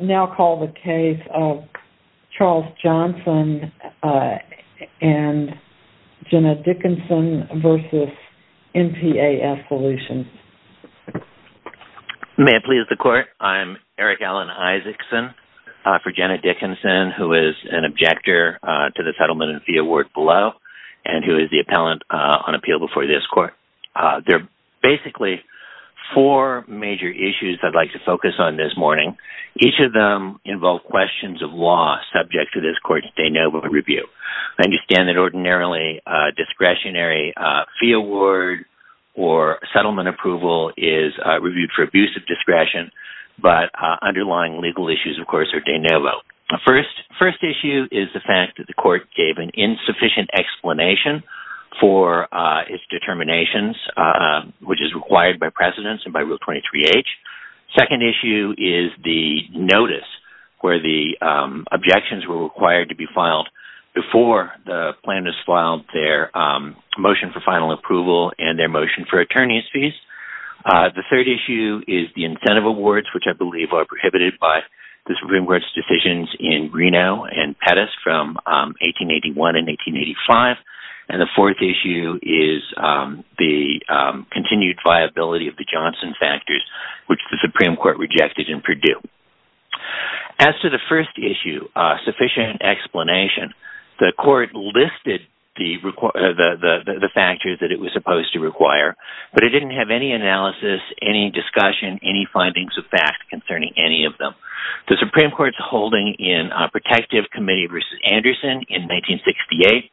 now call the case of Charles Johnson and Janet Dickenson v. NPAF Solutions. May I please the court? I'm Eric Alan Isaacson for Janet Dickenson who is an objector to the settlement of the award below and who is the appellant on appeal before this court. There are basically four major issues I'd like to focus on this morning. Each of them involve questions of law subject to this court's de novo review. I understand that ordinarily a discretionary fee award or settlement approval is reviewed for abuse of discretion, but underlying legal issues of course are de novo. The first issue is the fact that the court gave an insufficient explanation for its determinations, which is required by precedence and by Rule 23H. Second issue is the notice where the objections were required to be filed before the plaintiffs filed their motion for final approval and their motion for attorney's fees. The third issue is the incentive awards, which I believe are prohibited by the Supreme Court's decisions in Reno and Pettis from 1881 and 1885. And the fourth issue is the continued viability of the Johnson factors, which the Supreme Court rejected in Purdue. As to the first issue, sufficient explanation, the court listed the factors that it was supposed to require, but it didn't have any analysis, any discussion, any findings of fact concerning any of them. The Supreme Court's holding in Protective Committee v. Anderson in 1968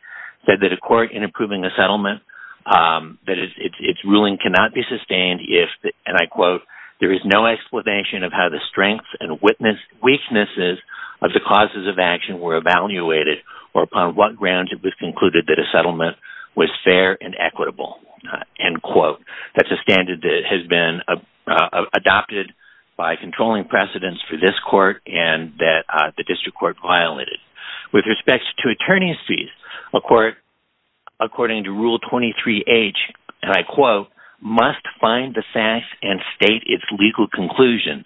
said that a court in approving a settlement that its ruling cannot be sustained if, and I quote, there is no explanation of how the strengths and weaknesses of the causes of action were evaluated or upon what grounds it was concluded that a settlement was fair and equitable, end quote. That's a standard that has been adopted by controlling precedents for this court and that the district court violated. With respect to attorney's fees, a court, according to Rule 23H, and I quote, must find the facts and state its legal conclusions,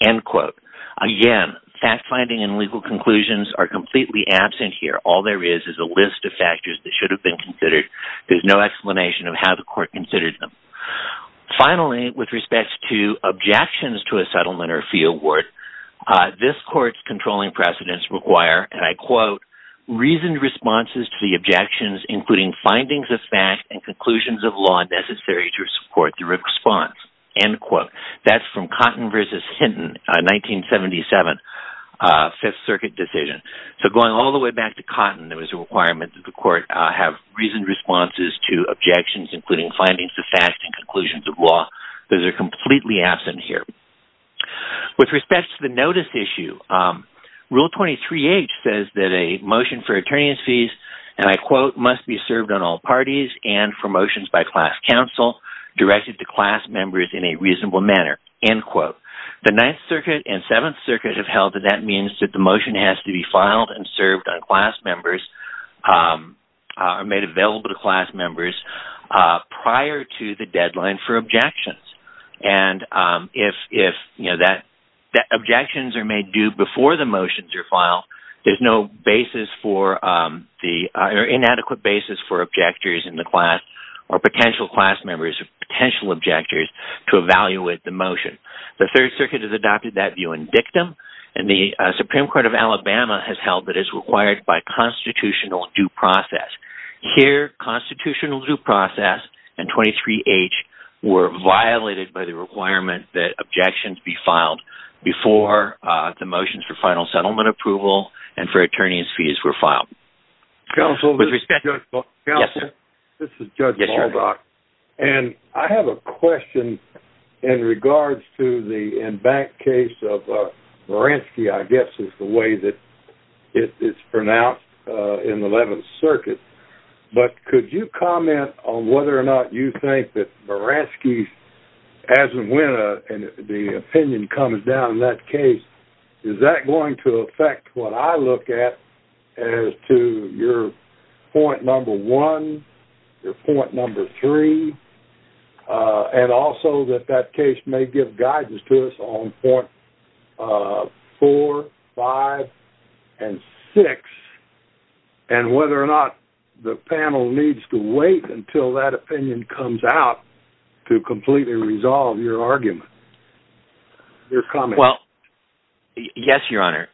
end quote. Again, fact finding and legal conclusions are completely absent here. All there is is a list of factors that should have been considered. There's no explanation of how the court considered them. Finally, with respect to objections to a settlement or fee award, this court's controlling precedents require, and I quote, reasoned responses to the objections, including findings of fact and conclusions of law necessary to support the response, end quote. That's from Cotton v. Hinton, 1977, Fifth Circuit decision. So going all the way back to Cotton, there was a requirement that the court have reasoned responses to objections, including the findings of fact and conclusions of law. Those are completely absent here. With respect to the notice issue, Rule 23H says that a motion for attorney's fees, and I quote, must be served on all parties and for motions by class counsel directed to class members in a reasonable manner, end quote. The Ninth Circuit and Seventh Circuit have held that that means that the motion has to be filed and served on class members, made prior to the deadline for objections. And if, you know, that objections are made due before the motions are filed, there's no basis for the, or inadequate basis for objectors in the class or potential class members or potential objectors to evaluate the motion. The Third Circuit has adopted that view in dictum, and the Supreme Court of Alabama has required by constitutional due process. Here, constitutional due process and 23H were violated by the requirement that objections be filed before the motions for final settlement approval and for attorney's fees were filed. Counsel, this is Judge Baldock, and I have a question in regards to the in-bank case of Baranski, I guess is the way that it's pronounced in the Eleventh Circuit. But could you comment on whether or not you think that Baranski, as and when the opinion comes down in that case, is that going to affect what I look at as to your point number one, your four, five, and six, and whether or not the panel needs to wait until that opinion comes out to completely resolve your argument. Your comments. Well, yes, Your Honor.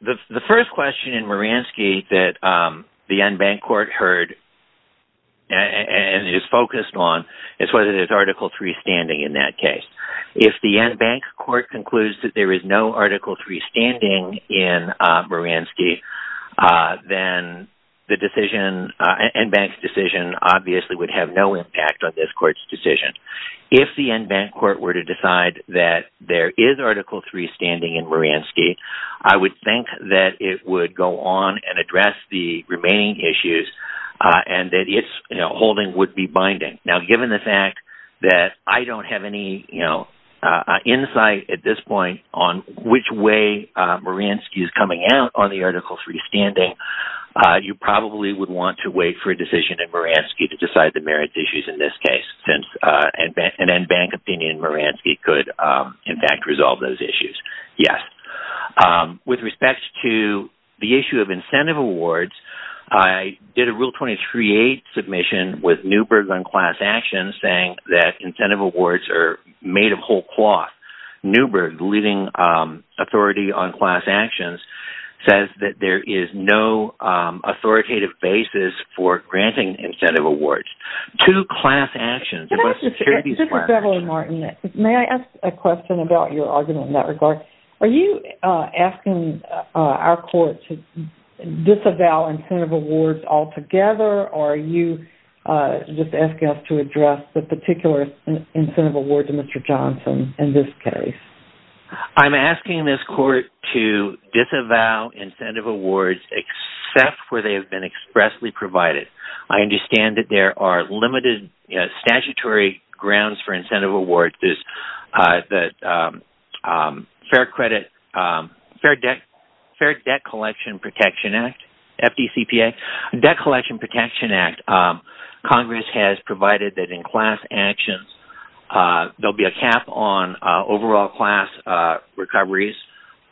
The first question in Baranski that the in-bank court heard and is focused on is whether there's Article III standing in that case. If the in-bank court concludes that there is no Article III standing in Baranski, then the in-bank decision obviously would have no impact on this court's decision. If the in-bank court were to decide that there is Article III standing in Baranski, I would think that it would go on and address the remaining issues and that its holding would be binding. Now, given the fact that I don't have any insight at this point on which way Baranski is coming out on the Article III standing, you probably would want to wait for a decision in Baranski to decide the merits issues in this case, since an in-bank opinion in Baranski could, in fact, resolve those I did a Rule 23.8 submission with Newberg on class actions saying that incentive awards are made of whole cloth. Newberg, the leading authority on class actions, says that there is no authoritative basis for granting incentive awards to class actions. Just a double, Martin. May I ask a question about your argument in that regard? Are you asking our court to disavow incentive awards altogether, or are you just asking us to address the particular incentive award to Mr. Johnson in this case? I'm asking this court to disavow incentive awards except where they have been expressly provided. I understand that there are limited statutory grounds for incentive awards. There's the Fair Debt Collection Protection Act, FDCPA. The Debt Collection Protection Act, Congress has provided that in class actions there will be a cap on overall class recoveries,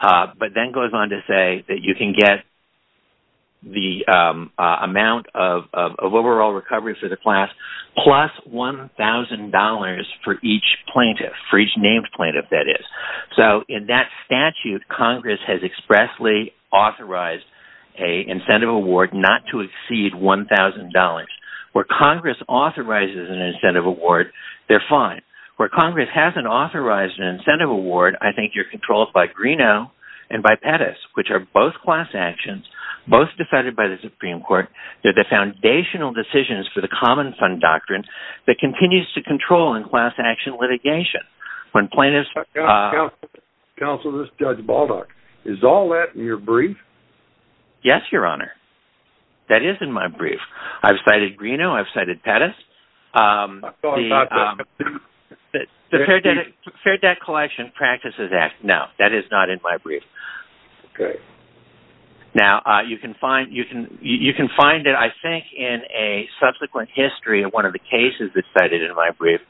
but then goes on to say that you can get the amount of overall recovery for the class plus $1,000 for each plaintiff, for each named plaintiff, that is. So in that statute, Congress has expressly authorized an incentive award not to exceed $1,000. Where Congress authorizes an incentive award, they're fine. Where Congress hasn't authorized an incentive award, I think you're controlled by Greeno and by Pettis, which are both class actions, both decided by the Supreme Court. They're the foundational decisions for the Common Fund Doctrine that continues to control in class action litigation. Counsel, this is Judge Baldock. Is all that in your brief? Yes, Your Honor. That is in my brief. I've cited Greeno, I've cited Pettis. I thought about this. The Fair Debt Collection Practices Act, no, that is not in my brief. Okay. Now, you can find it, I think, in a subsequent history in one of the cases that's cited in my brief,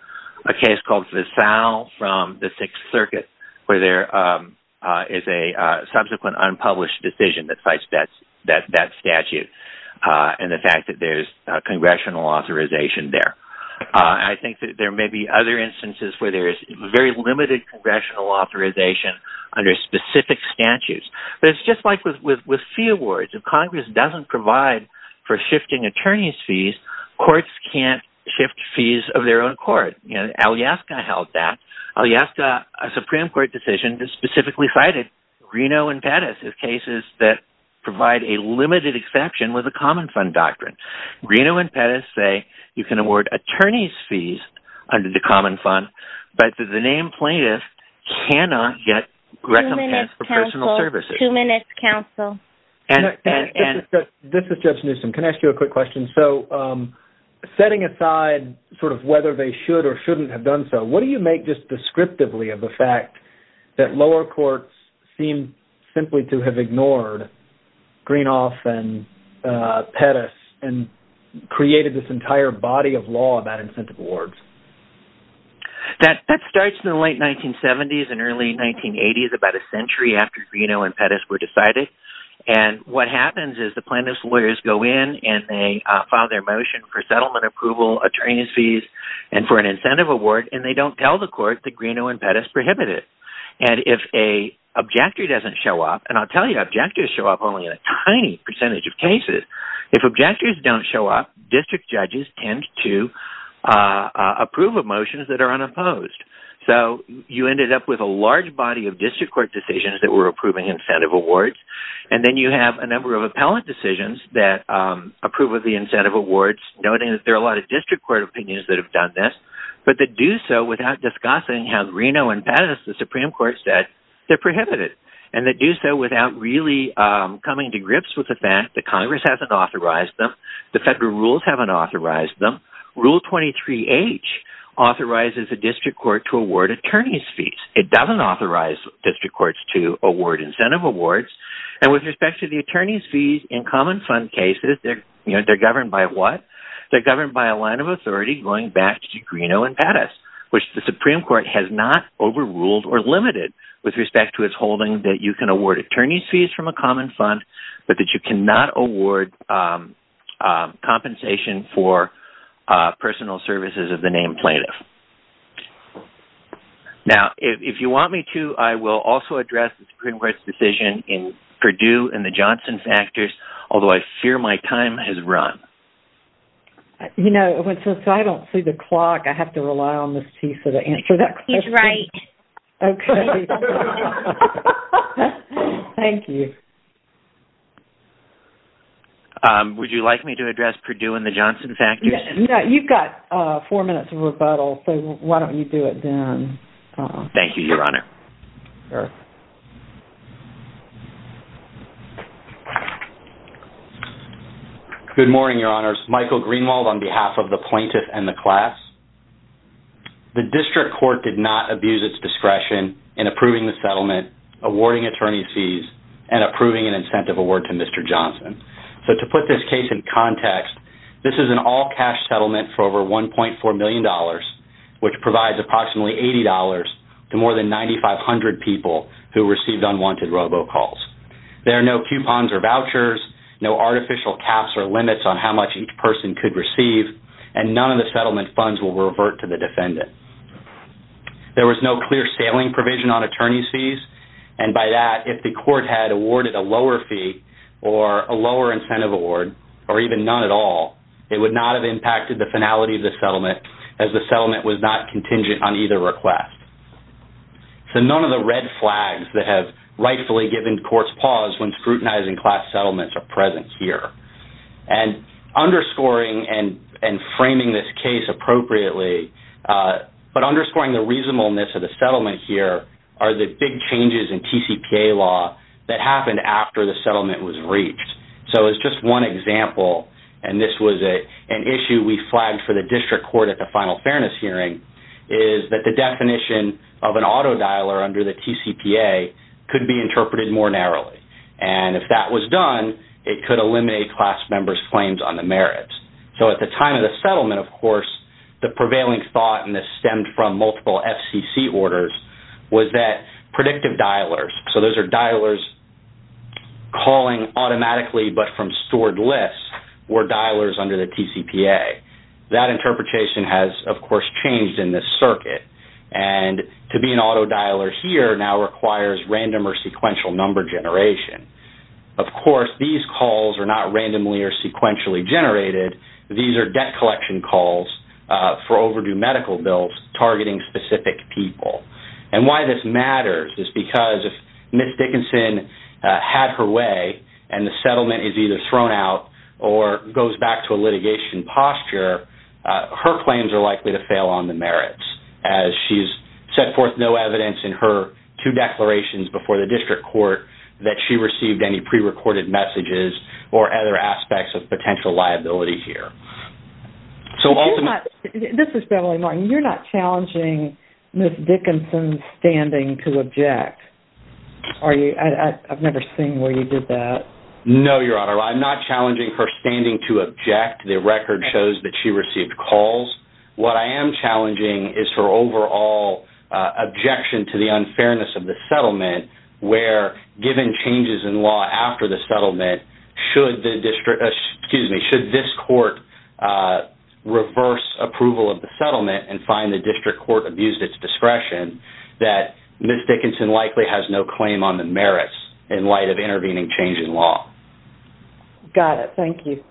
a case called Visale from the Sixth Circuit, where there is a subsequent unpublished decision that cites that statute and the fact that there's a congressional authorization there. I think that there may be other instances where there is very limited congressional authorization under specific statutes. But it's just like with fee awards. If Congress doesn't provide for shifting attorneys' fees, courts can't shift fees of their own court. Alyeska held that. Alyeska, a Supreme Court decision that specifically cited Greeno and Pettis as cases that provide a limited exception with the Common Fund Doctrine. Greeno and Pettis say you can award attorneys' fees under the Common Fund, but that the named plaintiff cannot get recompense for personal services. Two minutes, counsel. Two minutes, counsel. This is Judge Newsom. Can I ask you a quick question? So, setting aside sort of whether they should or shouldn't have done so, what do you make just descriptively of the fact that lower courts seem simply to have ignored Greenoff and Pettis and created this entire body of law about incentive awards? That starts in the late 1970s and early 1980s, about a century after Greeno and Pettis were decided. And what happens is the plaintiff's lawyers go in and they file their motion for settlement approval, attorney's fees, and for an incentive award, and they don't tell the court that Greeno and Pettis prohibited it. And if an objector doesn't show up, and I'll tell you objectors show up only in a tiny percentage of cases, if objectors don't show up, district judges tend to approve of motions that are unopposed. So, you ended up with a large body of district court decisions that were approving incentive awards, and then you have a number of appellate decisions that approve of the incentive awards, noting that there are a lot of district court opinions that have done this, but that do so without discussing how Greeno and Pettis, the Supreme Court said, they're prohibited. And they do so without really coming to grips with the fact that Congress hasn't authorized them, the federal rules haven't authorized them. Rule 23H authorizes a district court to award attorney's fees. It doesn't authorize district courts to award incentive awards. And with respect to the attorney's fees in common fund cases, they're governed by what? Going back to Greeno and Pettis, which the Supreme Court has not overruled or limited with respect to its holding that you can award attorney's fees from a common fund, but that you cannot award compensation for personal services of the named plaintiff. Now, if you want me to, I will also address the Supreme Court's decision in Purdue and the Johnson factors, although I fear my time has run. You know, since I don't see the clock, I have to rely on Ms. Tisa to answer that question. She's right. Okay. Thank you. Would you like me to address Purdue and the Johnson factors? No, you've got four minutes of rebuttal, so why don't you do it then? Thank you, Your Honor. Sure. Good morning, Your Honors. Michael Greenwald on behalf of the plaintiff and the class. The district court did not abuse its discretion in approving the settlement, awarding attorney's fees, and approving an incentive award to Mr. Johnson. So to put this case in context, this is an all-cash settlement for over $1.4 million, which provides approximately $80 to more than 9,500 people who received unwanted robocalls. There are no coupons or vouchers, no artificial caps or limits on how much each person could receive, and none of the settlement funds will revert to the defendant. There was no clear sailing provision on attorney's fees, and by that, if the court had awarded a lower fee or a lower incentive award or even none at all, it would not have impacted the finality of the settlement, as the settlement was not contingent on either request. So none of the red flags that have rightfully given courts pause when scrutinizing class settlements are present here. And underscoring and framing this case appropriately, but underscoring the reasonableness of the settlement here, are the big changes in TCPA law that happened after the settlement was reached. So as just one example, and this was an issue we flagged for the district court at the final fairness hearing, is that the definition of an auto dialer under the TCPA could be interpreted more narrowly. And if that was done, it could eliminate class members' claims on the merits. So at the time of the settlement, of course, the prevailing thought, and this stemmed from multiple FCC orders, was that predictive dialers, so those are dialers calling automatically but from stored lists, were dialers under the TCPA. That interpretation has, of course, changed in this circuit. And to be an auto dialer here now requires random or sequential number generation. Of course, these calls are not randomly or sequentially generated. These are debt collection calls for overdue medical bills targeting specific people. And why this matters is because if Ms. Dickinson had her way and the settlement is either thrown out or goes back to a litigation posture, her claims are likely to fail on the merits as she's set forth no evidence in her two declarations before the district court that she received any prerecorded messages or other aspects of potential liability here. This is Beverly Martin. You're not challenging Ms. Dickinson's standing to object, are you? I've never seen where you did that. No, Your Honor. I'm not challenging her standing to object. The record shows that she received calls. What I am challenging is her overall objection to the unfairness of the settlement where, given changes in law after the settlement, should this court reverse approval of the settlement and find the district court abused its discretion, that Ms. Dickinson likely has no claim on the merits in light of intervening change in law. Got it. Thank you.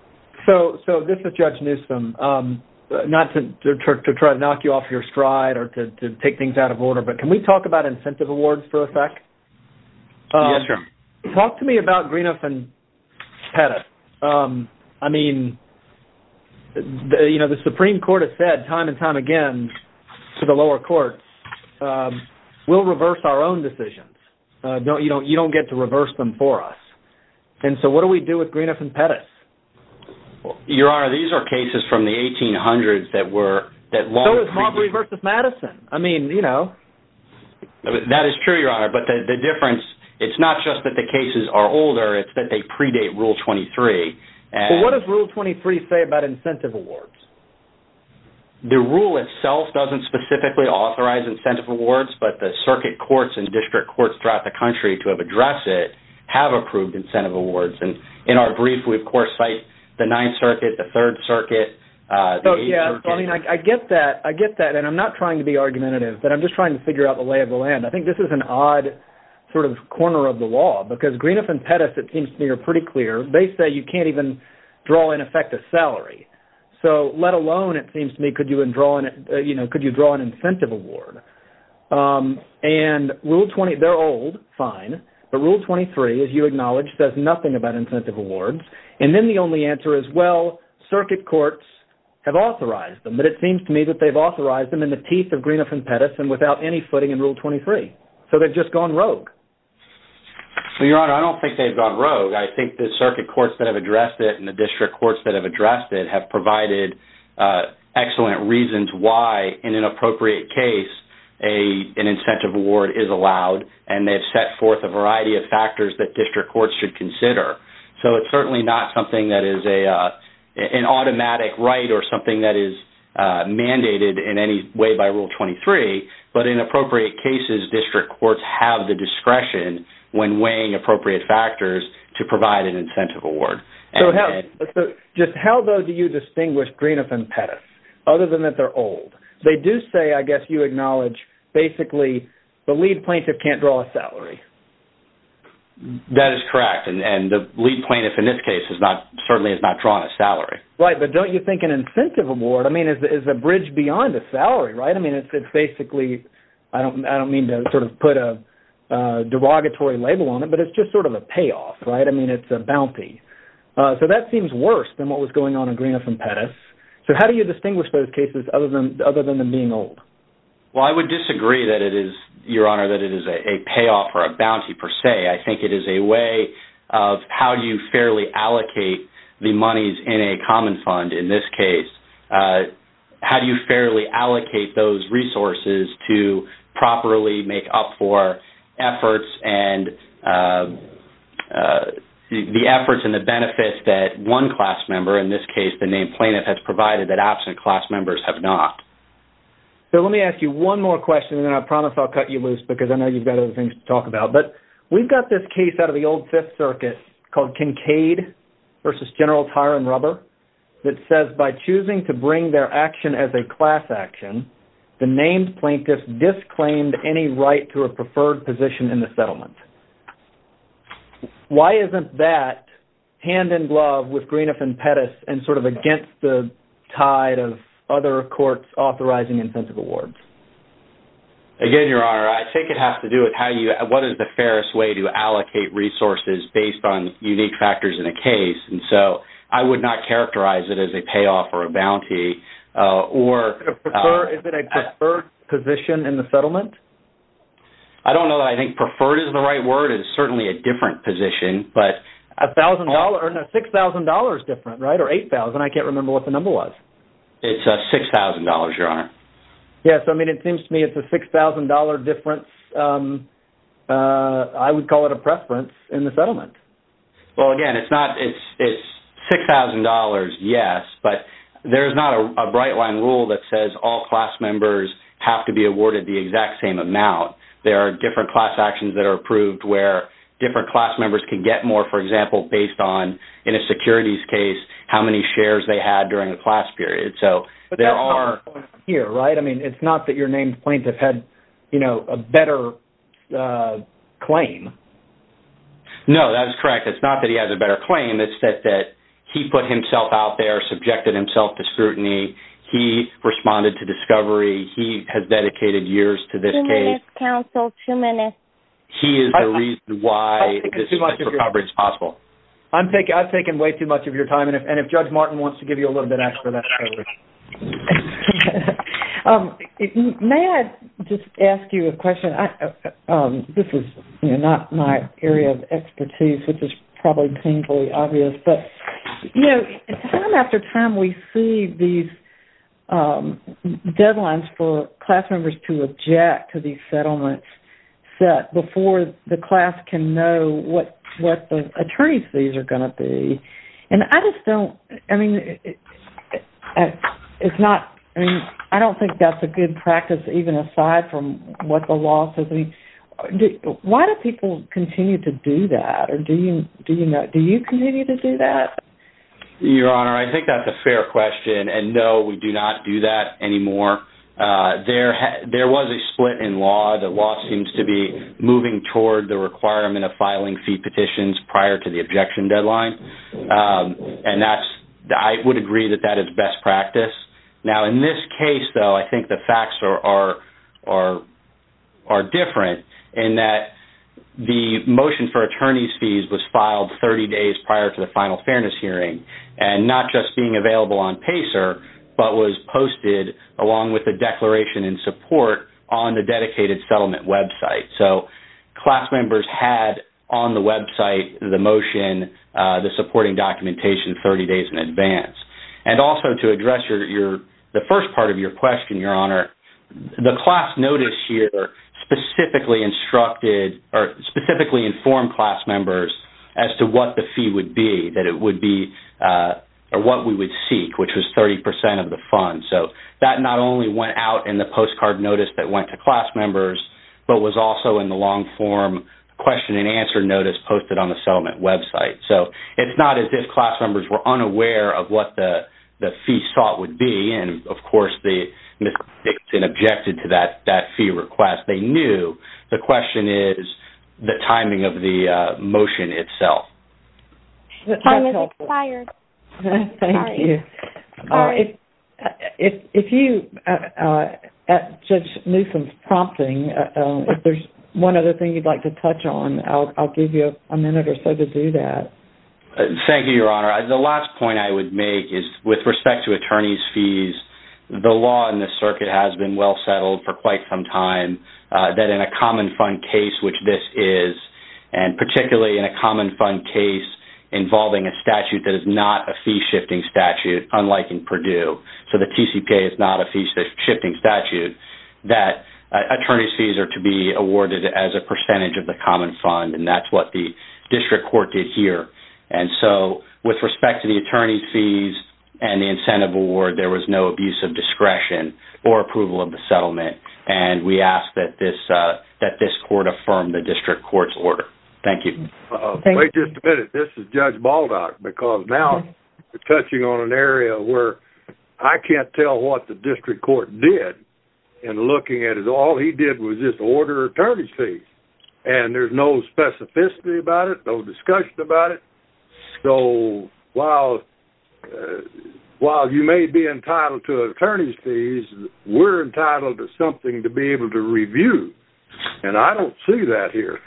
This is Judge Newsom. Not to try to knock you off your stride or to take things out of order, but can we talk about incentive awards for a sec? Yes, Your Honor. Talk to me about Greeniff and Pettis. I mean, you know, the Supreme Court has said time and time again to the lower courts, we'll reverse our own decisions. You don't get to reverse them for us. And so what do we do with Greeniff and Pettis? Your Honor, these are cases from the 1800s that were... So is Marbury v. Madison. I mean, you know... That is true, Your Honor, but the difference, it's not just that the cases are older, it's that they predate Rule 23. But what does Rule 23 say about incentive awards? The rule itself doesn't specifically authorize incentive awards, but the circuit courts and district courts throughout the country to have addressed it have approved incentive awards. And in our brief, we, of course, cite the Ninth Circuit, the Third Circuit, the Eighth Circuit. I get that. I get that, and I'm not trying to be argumentative, but I'm just trying to figure out the lay of the land. I think this is an odd sort of corner of the law, because Greeniff and Pettis, it seems to me, are pretty clear. They say you can't even draw, in effect, a salary. So let alone, it seems to me, could you draw an incentive award. And Rule 20, they're old, fine, but Rule 23, as you acknowledge, says nothing about incentive awards. And then the only answer is, well, circuit courts have authorized them, but it seems to me that they've authorized them in the teeth of Greeniff and Pettis and without any footing in Rule 23. So they've just gone rogue. Well, Your Honor, I don't think they've gone rogue. I think the circuit courts that have addressed it and the district courts that have addressed it have provided excellent reasons why, in an appropriate case, an incentive award is allowed, and they've set forth a variety of factors that district courts should consider. So it's certainly not something that is an automatic right or something that is mandated in any way by Rule 23, but in appropriate cases district courts have the discretion, when weighing appropriate factors, to provide an incentive award. So just how, though, do you distinguish Greeniff and Pettis, other than that they're old? They do say, I guess you acknowledge, basically, the lead plaintiff can't draw a salary. That is correct, and the lead plaintiff in this case certainly has not drawn a salary. Right, but don't you think an incentive award, I mean, is a bridge beyond a salary, right? I mean, it's basically, I don't mean to sort of put a derogatory label on it, but it's just sort of a payoff, right? I mean, it's a bounty. So that seems worse than what was going on in Greeniff and Pettis. So how do you distinguish those cases other than them being old? Well, I would disagree that it is, Your Honor, that it is a payoff or a bounty per se. I think it is a way of how do you fairly allocate the monies in a common fund in this case? How do you fairly allocate those resources to properly make up for efforts and the efforts and the benefits that one class member, in this case the named plaintiff, has provided that absent class members have not? So let me ask you one more question, and then I promise I'll cut you loose because I know you've got other things to talk about. But we've got this case out of the old Fifth Circuit called Kincaid v. General Tyron Rubber that says by choosing to bring their action as a class action, the named plaintiff disclaimed any right to a preferred position in the settlement. Why isn't that hand in glove with Greeniff and Pettis and sort of against the tide of other courts authorizing incentive awards? Again, Your Honor, I think it has to do with what is the fairest way to allocate resources based on unique factors in a case. And so I would not characterize it as a payoff or a bounty. Is it a preferred position in the settlement? I don't know that I think preferred is the right word. It is certainly a different position. $6,000 different, right, or $8,000. I can't remember what the number was. It's $6,000, Your Honor. Yes, I mean, it seems to me it's a $6,000 difference. I would call it a preference in the settlement. Well, again, it's $6,000, yes, but there's not a bright-line rule that says all class members have to be awarded the exact same amount. There are different class actions that are approved where different class members can get more, for example, based on, in a securities case, how many shares they had during the class period. But that's not what's going on here, right? I mean, it's not that your named plaintiff had a better claim. No, that is correct. It's not that he has a better claim. It's that he put himself out there, subjected himself to scrutiny. He responded to discovery. He has dedicated years to this case. Two minutes, counsel, two minutes. He is the reason why this recovery is possible. I've taken way too much of your time, and if Judge Martin wants to give you a little bit, ask for that. May I just ask you a question? This is not my area of expertise, which is probably painfully obvious, but time after time we see these deadlines for class members to object to these settlements set before the class can know what the attorney's fees are going to be. And I just don't, I mean, it's not, I mean, I don't think that's a good practice, even aside from what the law says. Why do people continue to do that? Do you continue to do that? Your Honor, I think that's a fair question, and no, we do not do that anymore. There was a split in law. The law seems to be moving toward the requirement of filing fee petitions prior to the And that's, I would agree that that is best practice. Now, in this case, though, I think the facts are different, in that the motion for attorney's fees was filed 30 days prior to the final fairness hearing, and not just being available on PACER, but was posted along with the declaration in support on the dedicated settlement website. So class members had on the website the motion, the supporting documentation 30 days in advance. And also to address the first part of your question, Your Honor, the class notice here specifically instructed or specifically informed class members as to what the fee would be, that it would be what we would seek, which was 30 percent of the fund. So that not only went out in the postcard notice that went to class members, but was also in the long-form question-and-answer notice posted on the settlement website. So it's not as if class members were unaware of what the fee sought would be, and, of course, they objected to that fee request. They knew the question is the timing of the motion itself. Time has expired. Thank you. If you, Judge Newsom's prompting, if there's one other thing you'd like to touch on, I'll give you a minute or so to do that. Thank you, Your Honor. The last point I would make is with respect to attorney's fees, the law in this circuit has been well settled for quite some time, that in a common fund case, which this is, and particularly in a common fund case involving a statute that is not a fee-shifting statute, unlike in Purdue, so the TCPA is not a fee-shifting statute, that attorney's fees are to be awarded as a percentage of the common fund, and that's what the district court did here. And so with respect to the attorney's fees and the incentive award, and we ask that this court affirm the district court's order. Thank you. Wait just a minute. This is Judge Baldock, because now we're touching on an area where I can't tell what the district court did, and looking at it, all he did was just order attorney's fees, and there's no specificity about it, no discussion about it. So while you may be entitled to attorney's fees, we're entitled to something to be able to review, and I don't see that here.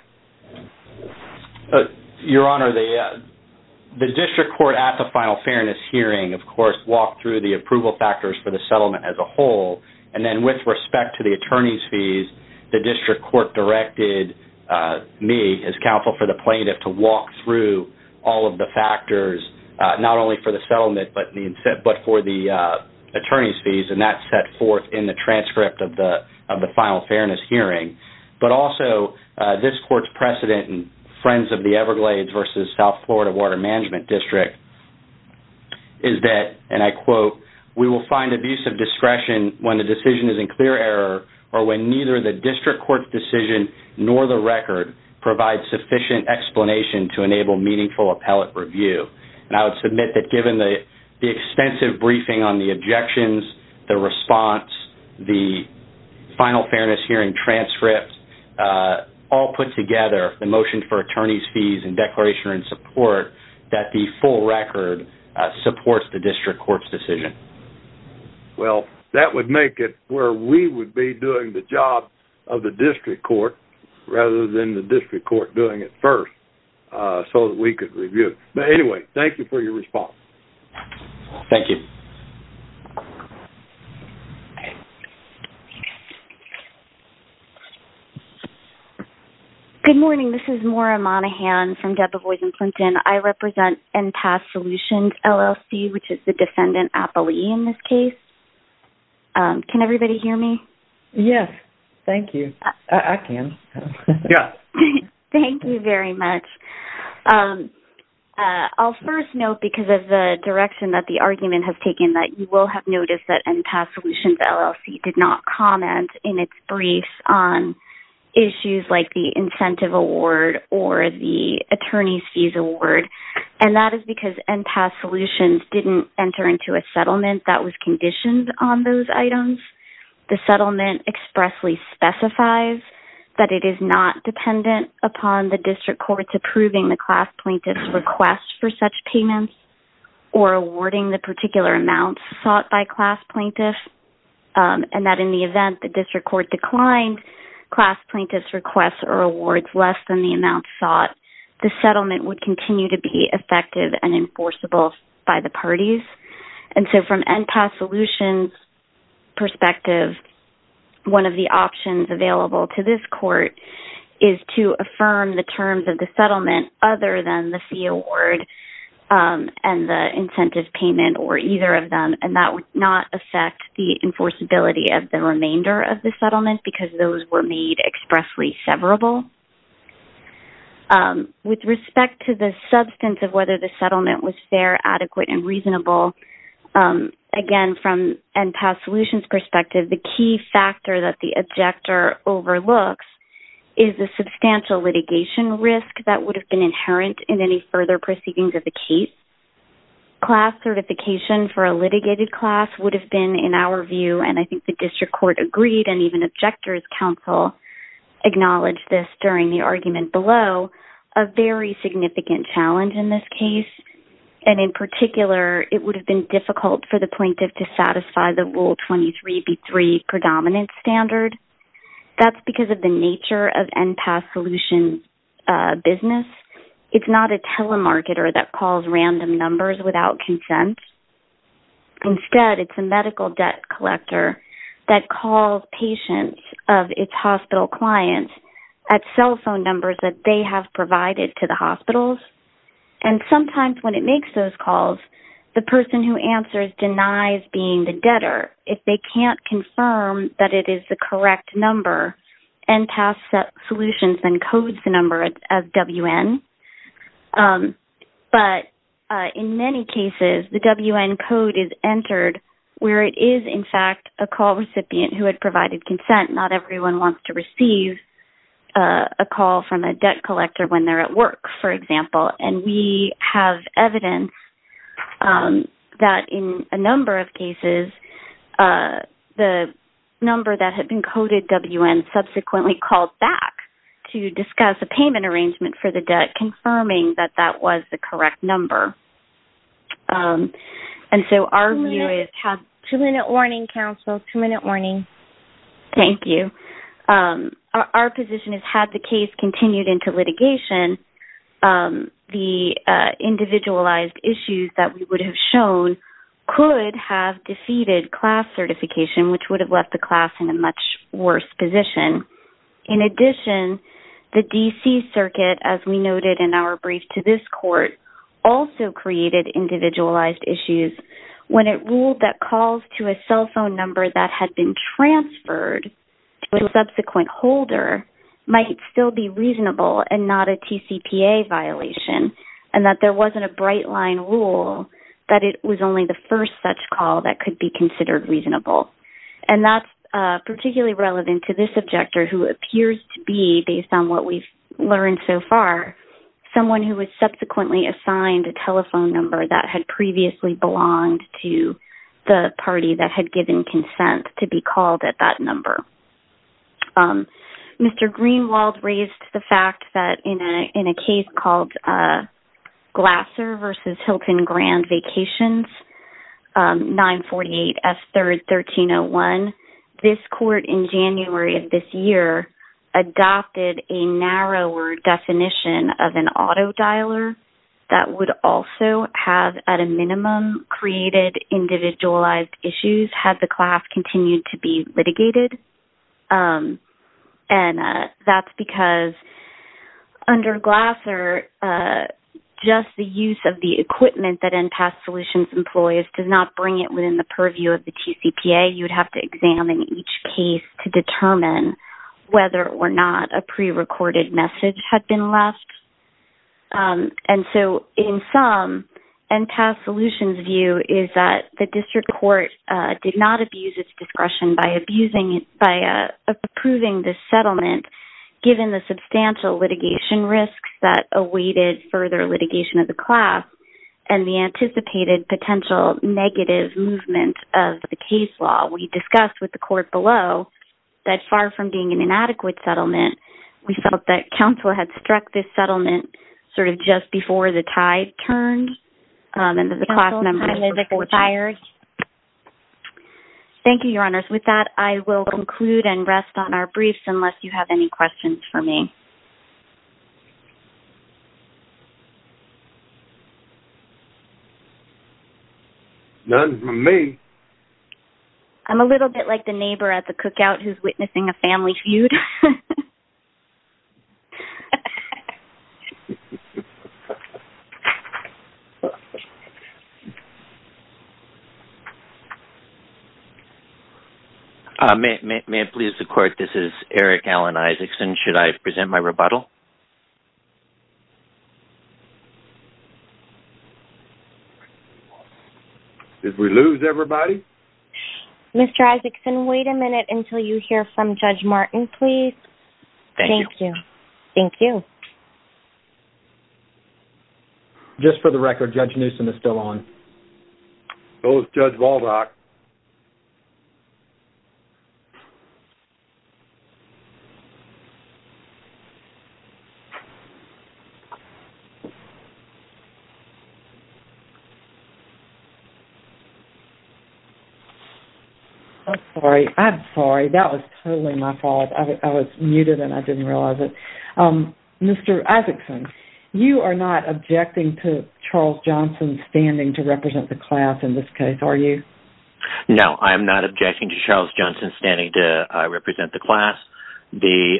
Your Honor, the district court at the final fairness hearing, of course, walked through the approval factors for the settlement as a whole, and then with respect to the attorney's fees, the district court directed me, as counsel for the plaintiff, to walk through all of the factors, not only for the settlement, but for the attorney's fees, and that's set forth in the transcript of the final fairness hearing. But also, this court's precedent in Friends of the Everglades versus South Florida Water Management District is that, and I quote, we will find abuse of discretion when the decision is in clear error, or when neither the district court's decision nor the record provides sufficient explanation to enable meaningful appellate review. And I would submit that given the extensive briefing on the objections, the response, the final fairness hearing transcript, all put together, the motion for attorney's fees and declaration of support, that the full record supports the district court's decision. Well, that would make it where we would be doing the job of the district court, rather than the district court doing it first, so that we could review. But anyway, thank you for your response. Thank you. Hi. Good morning. This is Maura Monahan from Debevoise & Clinton. I represent Enpass Solutions, LLC, which is the defendant appellee in this case. Can everybody hear me? Yes. Thank you. I can. Yeah. Thank you very much. I'll first note, because of the direction that the argument has taken, that you will have noticed that Enpass Solutions, LLC, did not comment in its brief on issues like the incentive award or the attorney's fees award. And that is because Enpass Solutions didn't enter into a settlement that was conditioned on those items. The settlement expressly specifies that it is not dependent upon the district court's approving the class plaintiff's request for such payments, or awarding the particular amounts sought by class plaintiffs, and that in the event the district court declined class plaintiffs' requests or awards less than the amount sought, the settlement would continue to be effective and enforceable by the parties. And so from Enpass Solutions' perspective, one of the options available to this court is to affirm the terms of the settlement, other than the fee award and the incentive payment or either of them, and that would not affect the enforceability of the remainder of the settlement because those were made expressly severable. With respect to the substance of whether the settlement was fair, adequate, and reasonable, again, from Enpass Solutions' perspective, the key factor that the objector overlooks is the substantial litigation risk that would have been inherent in any further proceedings of the case. Class certification for a litigated class would have been, in our view, and I think the district court agreed and even objector's counsel acknowledged this during the argument below, a very significant challenge in this case, and in particular, it would have been difficult for the plaintiff to satisfy the Rule 23b3 predominant standard. That's because of the nature of Enpass Solutions' business. It's not a telemarketer that calls random numbers without consent. Instead, it's a medical debt collector that calls patients of its hospital clients at cell phone numbers that they have provided to the hospitals, and sometimes when it makes those calls, the person who answers denies being the debtor. If they can't confirm that it is the correct number, Enpass Solutions then codes the number as WN, but in many cases, the WN code is entered where it is, in fact, a call recipient who had provided consent. Not everyone wants to receive a call from a debt collector when they're at work, for example, and we have evidence that in a number of cases, the number that had been coded WN subsequently called back to discuss a payment arrangement for the debt, confirming that that was the correct number. Two-minute warning, counsel. Two-minute warning. Thank you. Our position is, had the case continued into litigation, the individualized issues that we would have shown could have defeated class certification, which would have left the class in a much worse position. In addition, the D.C. Circuit, as we noted in our brief to this court, also created individualized issues when it ruled that calls to a cell phone number that had been transferred to a subsequent holder might still be reasonable and not a TCPA violation, and that there wasn't a bright-line rule that it was only the first such call that could be considered reasonable. And that's particularly relevant to this objector, who appears to be, based on what we've learned so far, someone who was subsequently assigned a telephone number that had previously belonged to the party that had given consent to be called at that number. Mr. Greenwald raised the fact that in a case called Glasser v. Hilton Grand Vacations, 948S3-1301, this court in January of this year adopted a narrower definition of an auto-dialer that would also have, at a minimum, created individualized issues had the class continued to be litigated. And that's because under Glasser, just the use of the equipment that Enpass Solutions employs does not bring it within the purview of the TCPA. You would have to examine each case to determine whether or not a prerecorded message had been left. And so, in sum, Enpass Solutions' view is that the district court did not abuse its discretion by approving this settlement, given the substantial litigation risks that awaited further litigation of the class and the anticipated potential negative movement of the case law. We discussed with the court below that far from being an inadequate settlement, we felt that counsel had struck this settlement sort of just before the tide turned and that the class members were tired. Thank you, Your Honors. With that, I will conclude and rest on our briefs unless you have any questions for me. None from me. I'm a little bit like the neighbor at the cookout who's witnessing a family feud. May it please the court, this is Eric Alan Isaacson. Should I present my rebuttal? Did we lose everybody? Mr. Isaacson, wait a minute until you hear from Judge Martin, please. Thank you. Thank you. Just for the record, Judge Newsom is still on. So is Judge Waldock. I'm sorry, I'm sorry. That was totally my fault. I was muted and I didn't realize it. Mr. Isaacson, you are not objecting to Charles Johnson standing to represent the class in this case, are you? No, I am not objecting to Charles Johnson standing to represent the class. The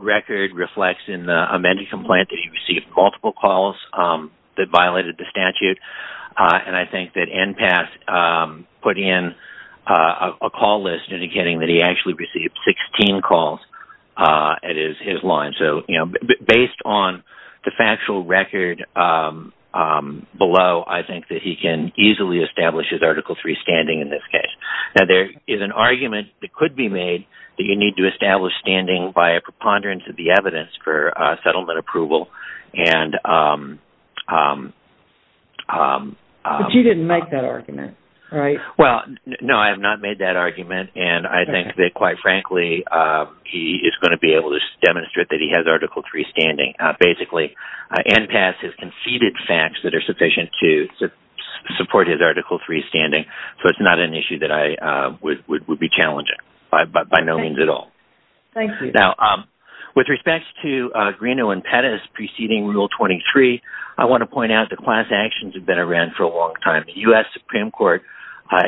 record reflects in the amended complaint that he received multiple calls that violated the statute, and I think that Enpass put in a call list indicating that he actually received 16 calls. It is his line. So based on the factual record below, I think that he can easily establish his Article 3 standing in this case. Now, there is an argument that could be made that you need to establish standing by a preponderance of the evidence for settlement approval. But you didn't make that argument, right? Well, no, I have not made that argument, and I think that, quite frankly, he is going to be able to demonstrate that he has Article 3 standing. Basically, Enpass has conceded facts that are sufficient to support his Article 3 standing, so it's not an issue that I would be challenging by no means at all. Thank you. Now, with respect to Grinnell and Pettis preceding Rule 23, I want to point out that class actions have been around for a long time. The U.S. Supreme Court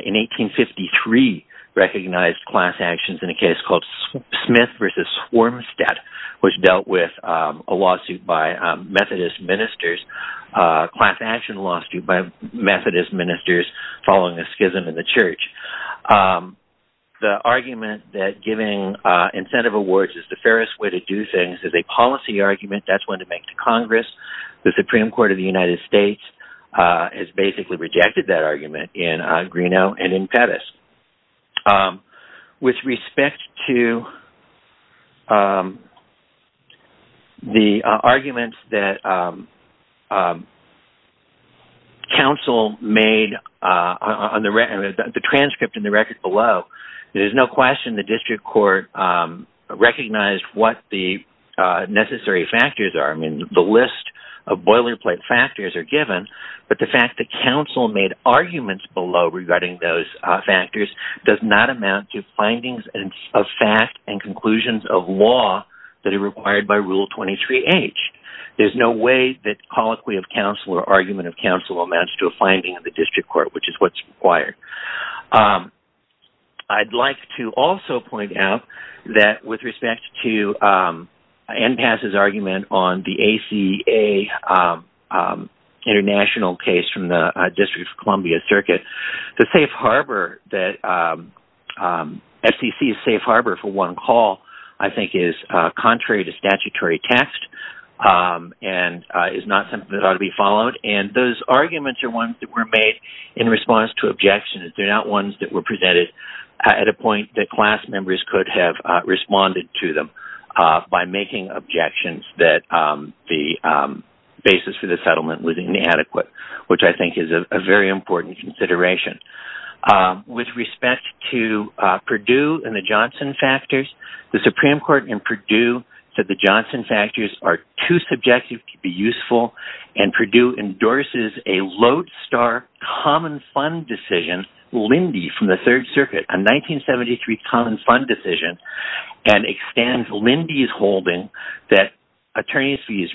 in 1853 recognized class actions in a case called Smith v. Swarmstead, which dealt with a lawsuit by Methodist ministers, a class action lawsuit by Methodist ministers following a schism in the church. The argument that giving incentive awards is the fairest way to do things is a policy argument. That's one to make to Congress. The Supreme Court of the United States has basically rejected that argument in Grinnell and in Pettis. With respect to the arguments that counsel made on the transcript and the record below, there's no question the district court recognized what the necessary factors are. I mean, the list of boilerplate factors are given, but the fact that counsel made arguments below regarding those factors does not amount to findings of fact and conclusions of law that are required by Rule 23H. There's no way that colloquy of counsel or argument of counsel amounts to a finding of the district court, which is what's required. I'd like to also point out that with respect to Enpass' argument on the ACA international case from the District of Columbia Circuit, the safe harbor that FCC's safe harbor for one call, I think, is contrary to statutory text and is not something that ought to be followed. Those arguments are ones that were made in response to objections. They're not ones that were presented at a point that class members could have responded to them by making objections that the basis for the settlement was inadequate, which I think is a very important consideration. With respect to Purdue and the Johnson factors, the Supreme Court in Purdue said the Johnson factors are too subjective to be useful, and Purdue endorses a lodestar common fund decision, Lindy from the Third Circuit, a 1973 common fund decision, and extends Lindy's holding that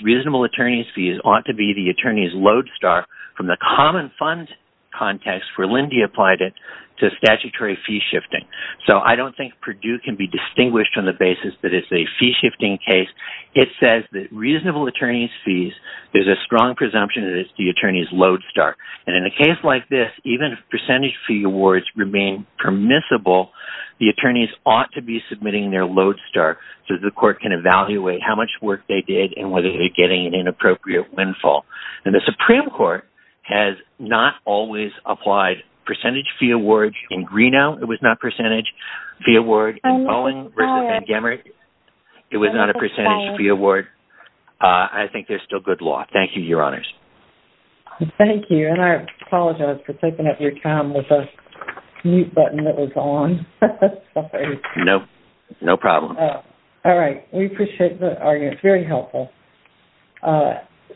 reasonable attorney's fees ought to be the attorney's lodestar from the common fund context where Lindy applied it to statutory fee shifting. I don't think Purdue can be distinguished from the basis that it's a fee shifting case. It says that reasonable attorney's fees, there's a strong presumption that it's the attorney's lodestar, and in a case like this, even if percentage fee awards remain permissible, the attorneys ought to be submitting their lodestar so the court can evaluate how much work they did and whether they're getting an inappropriate windfall, and the Supreme Court has not always applied percentage fee awards. In Greenough, it was not percentage fee award. In Olin versus Van Gemmerich, it was not a percentage fee award. I think there's still good law. Thank you, Your Honors. Thank you, and I apologize for taking up your time with a mute button that was on. No problem. All right, we appreciate the arguments. Very helpful.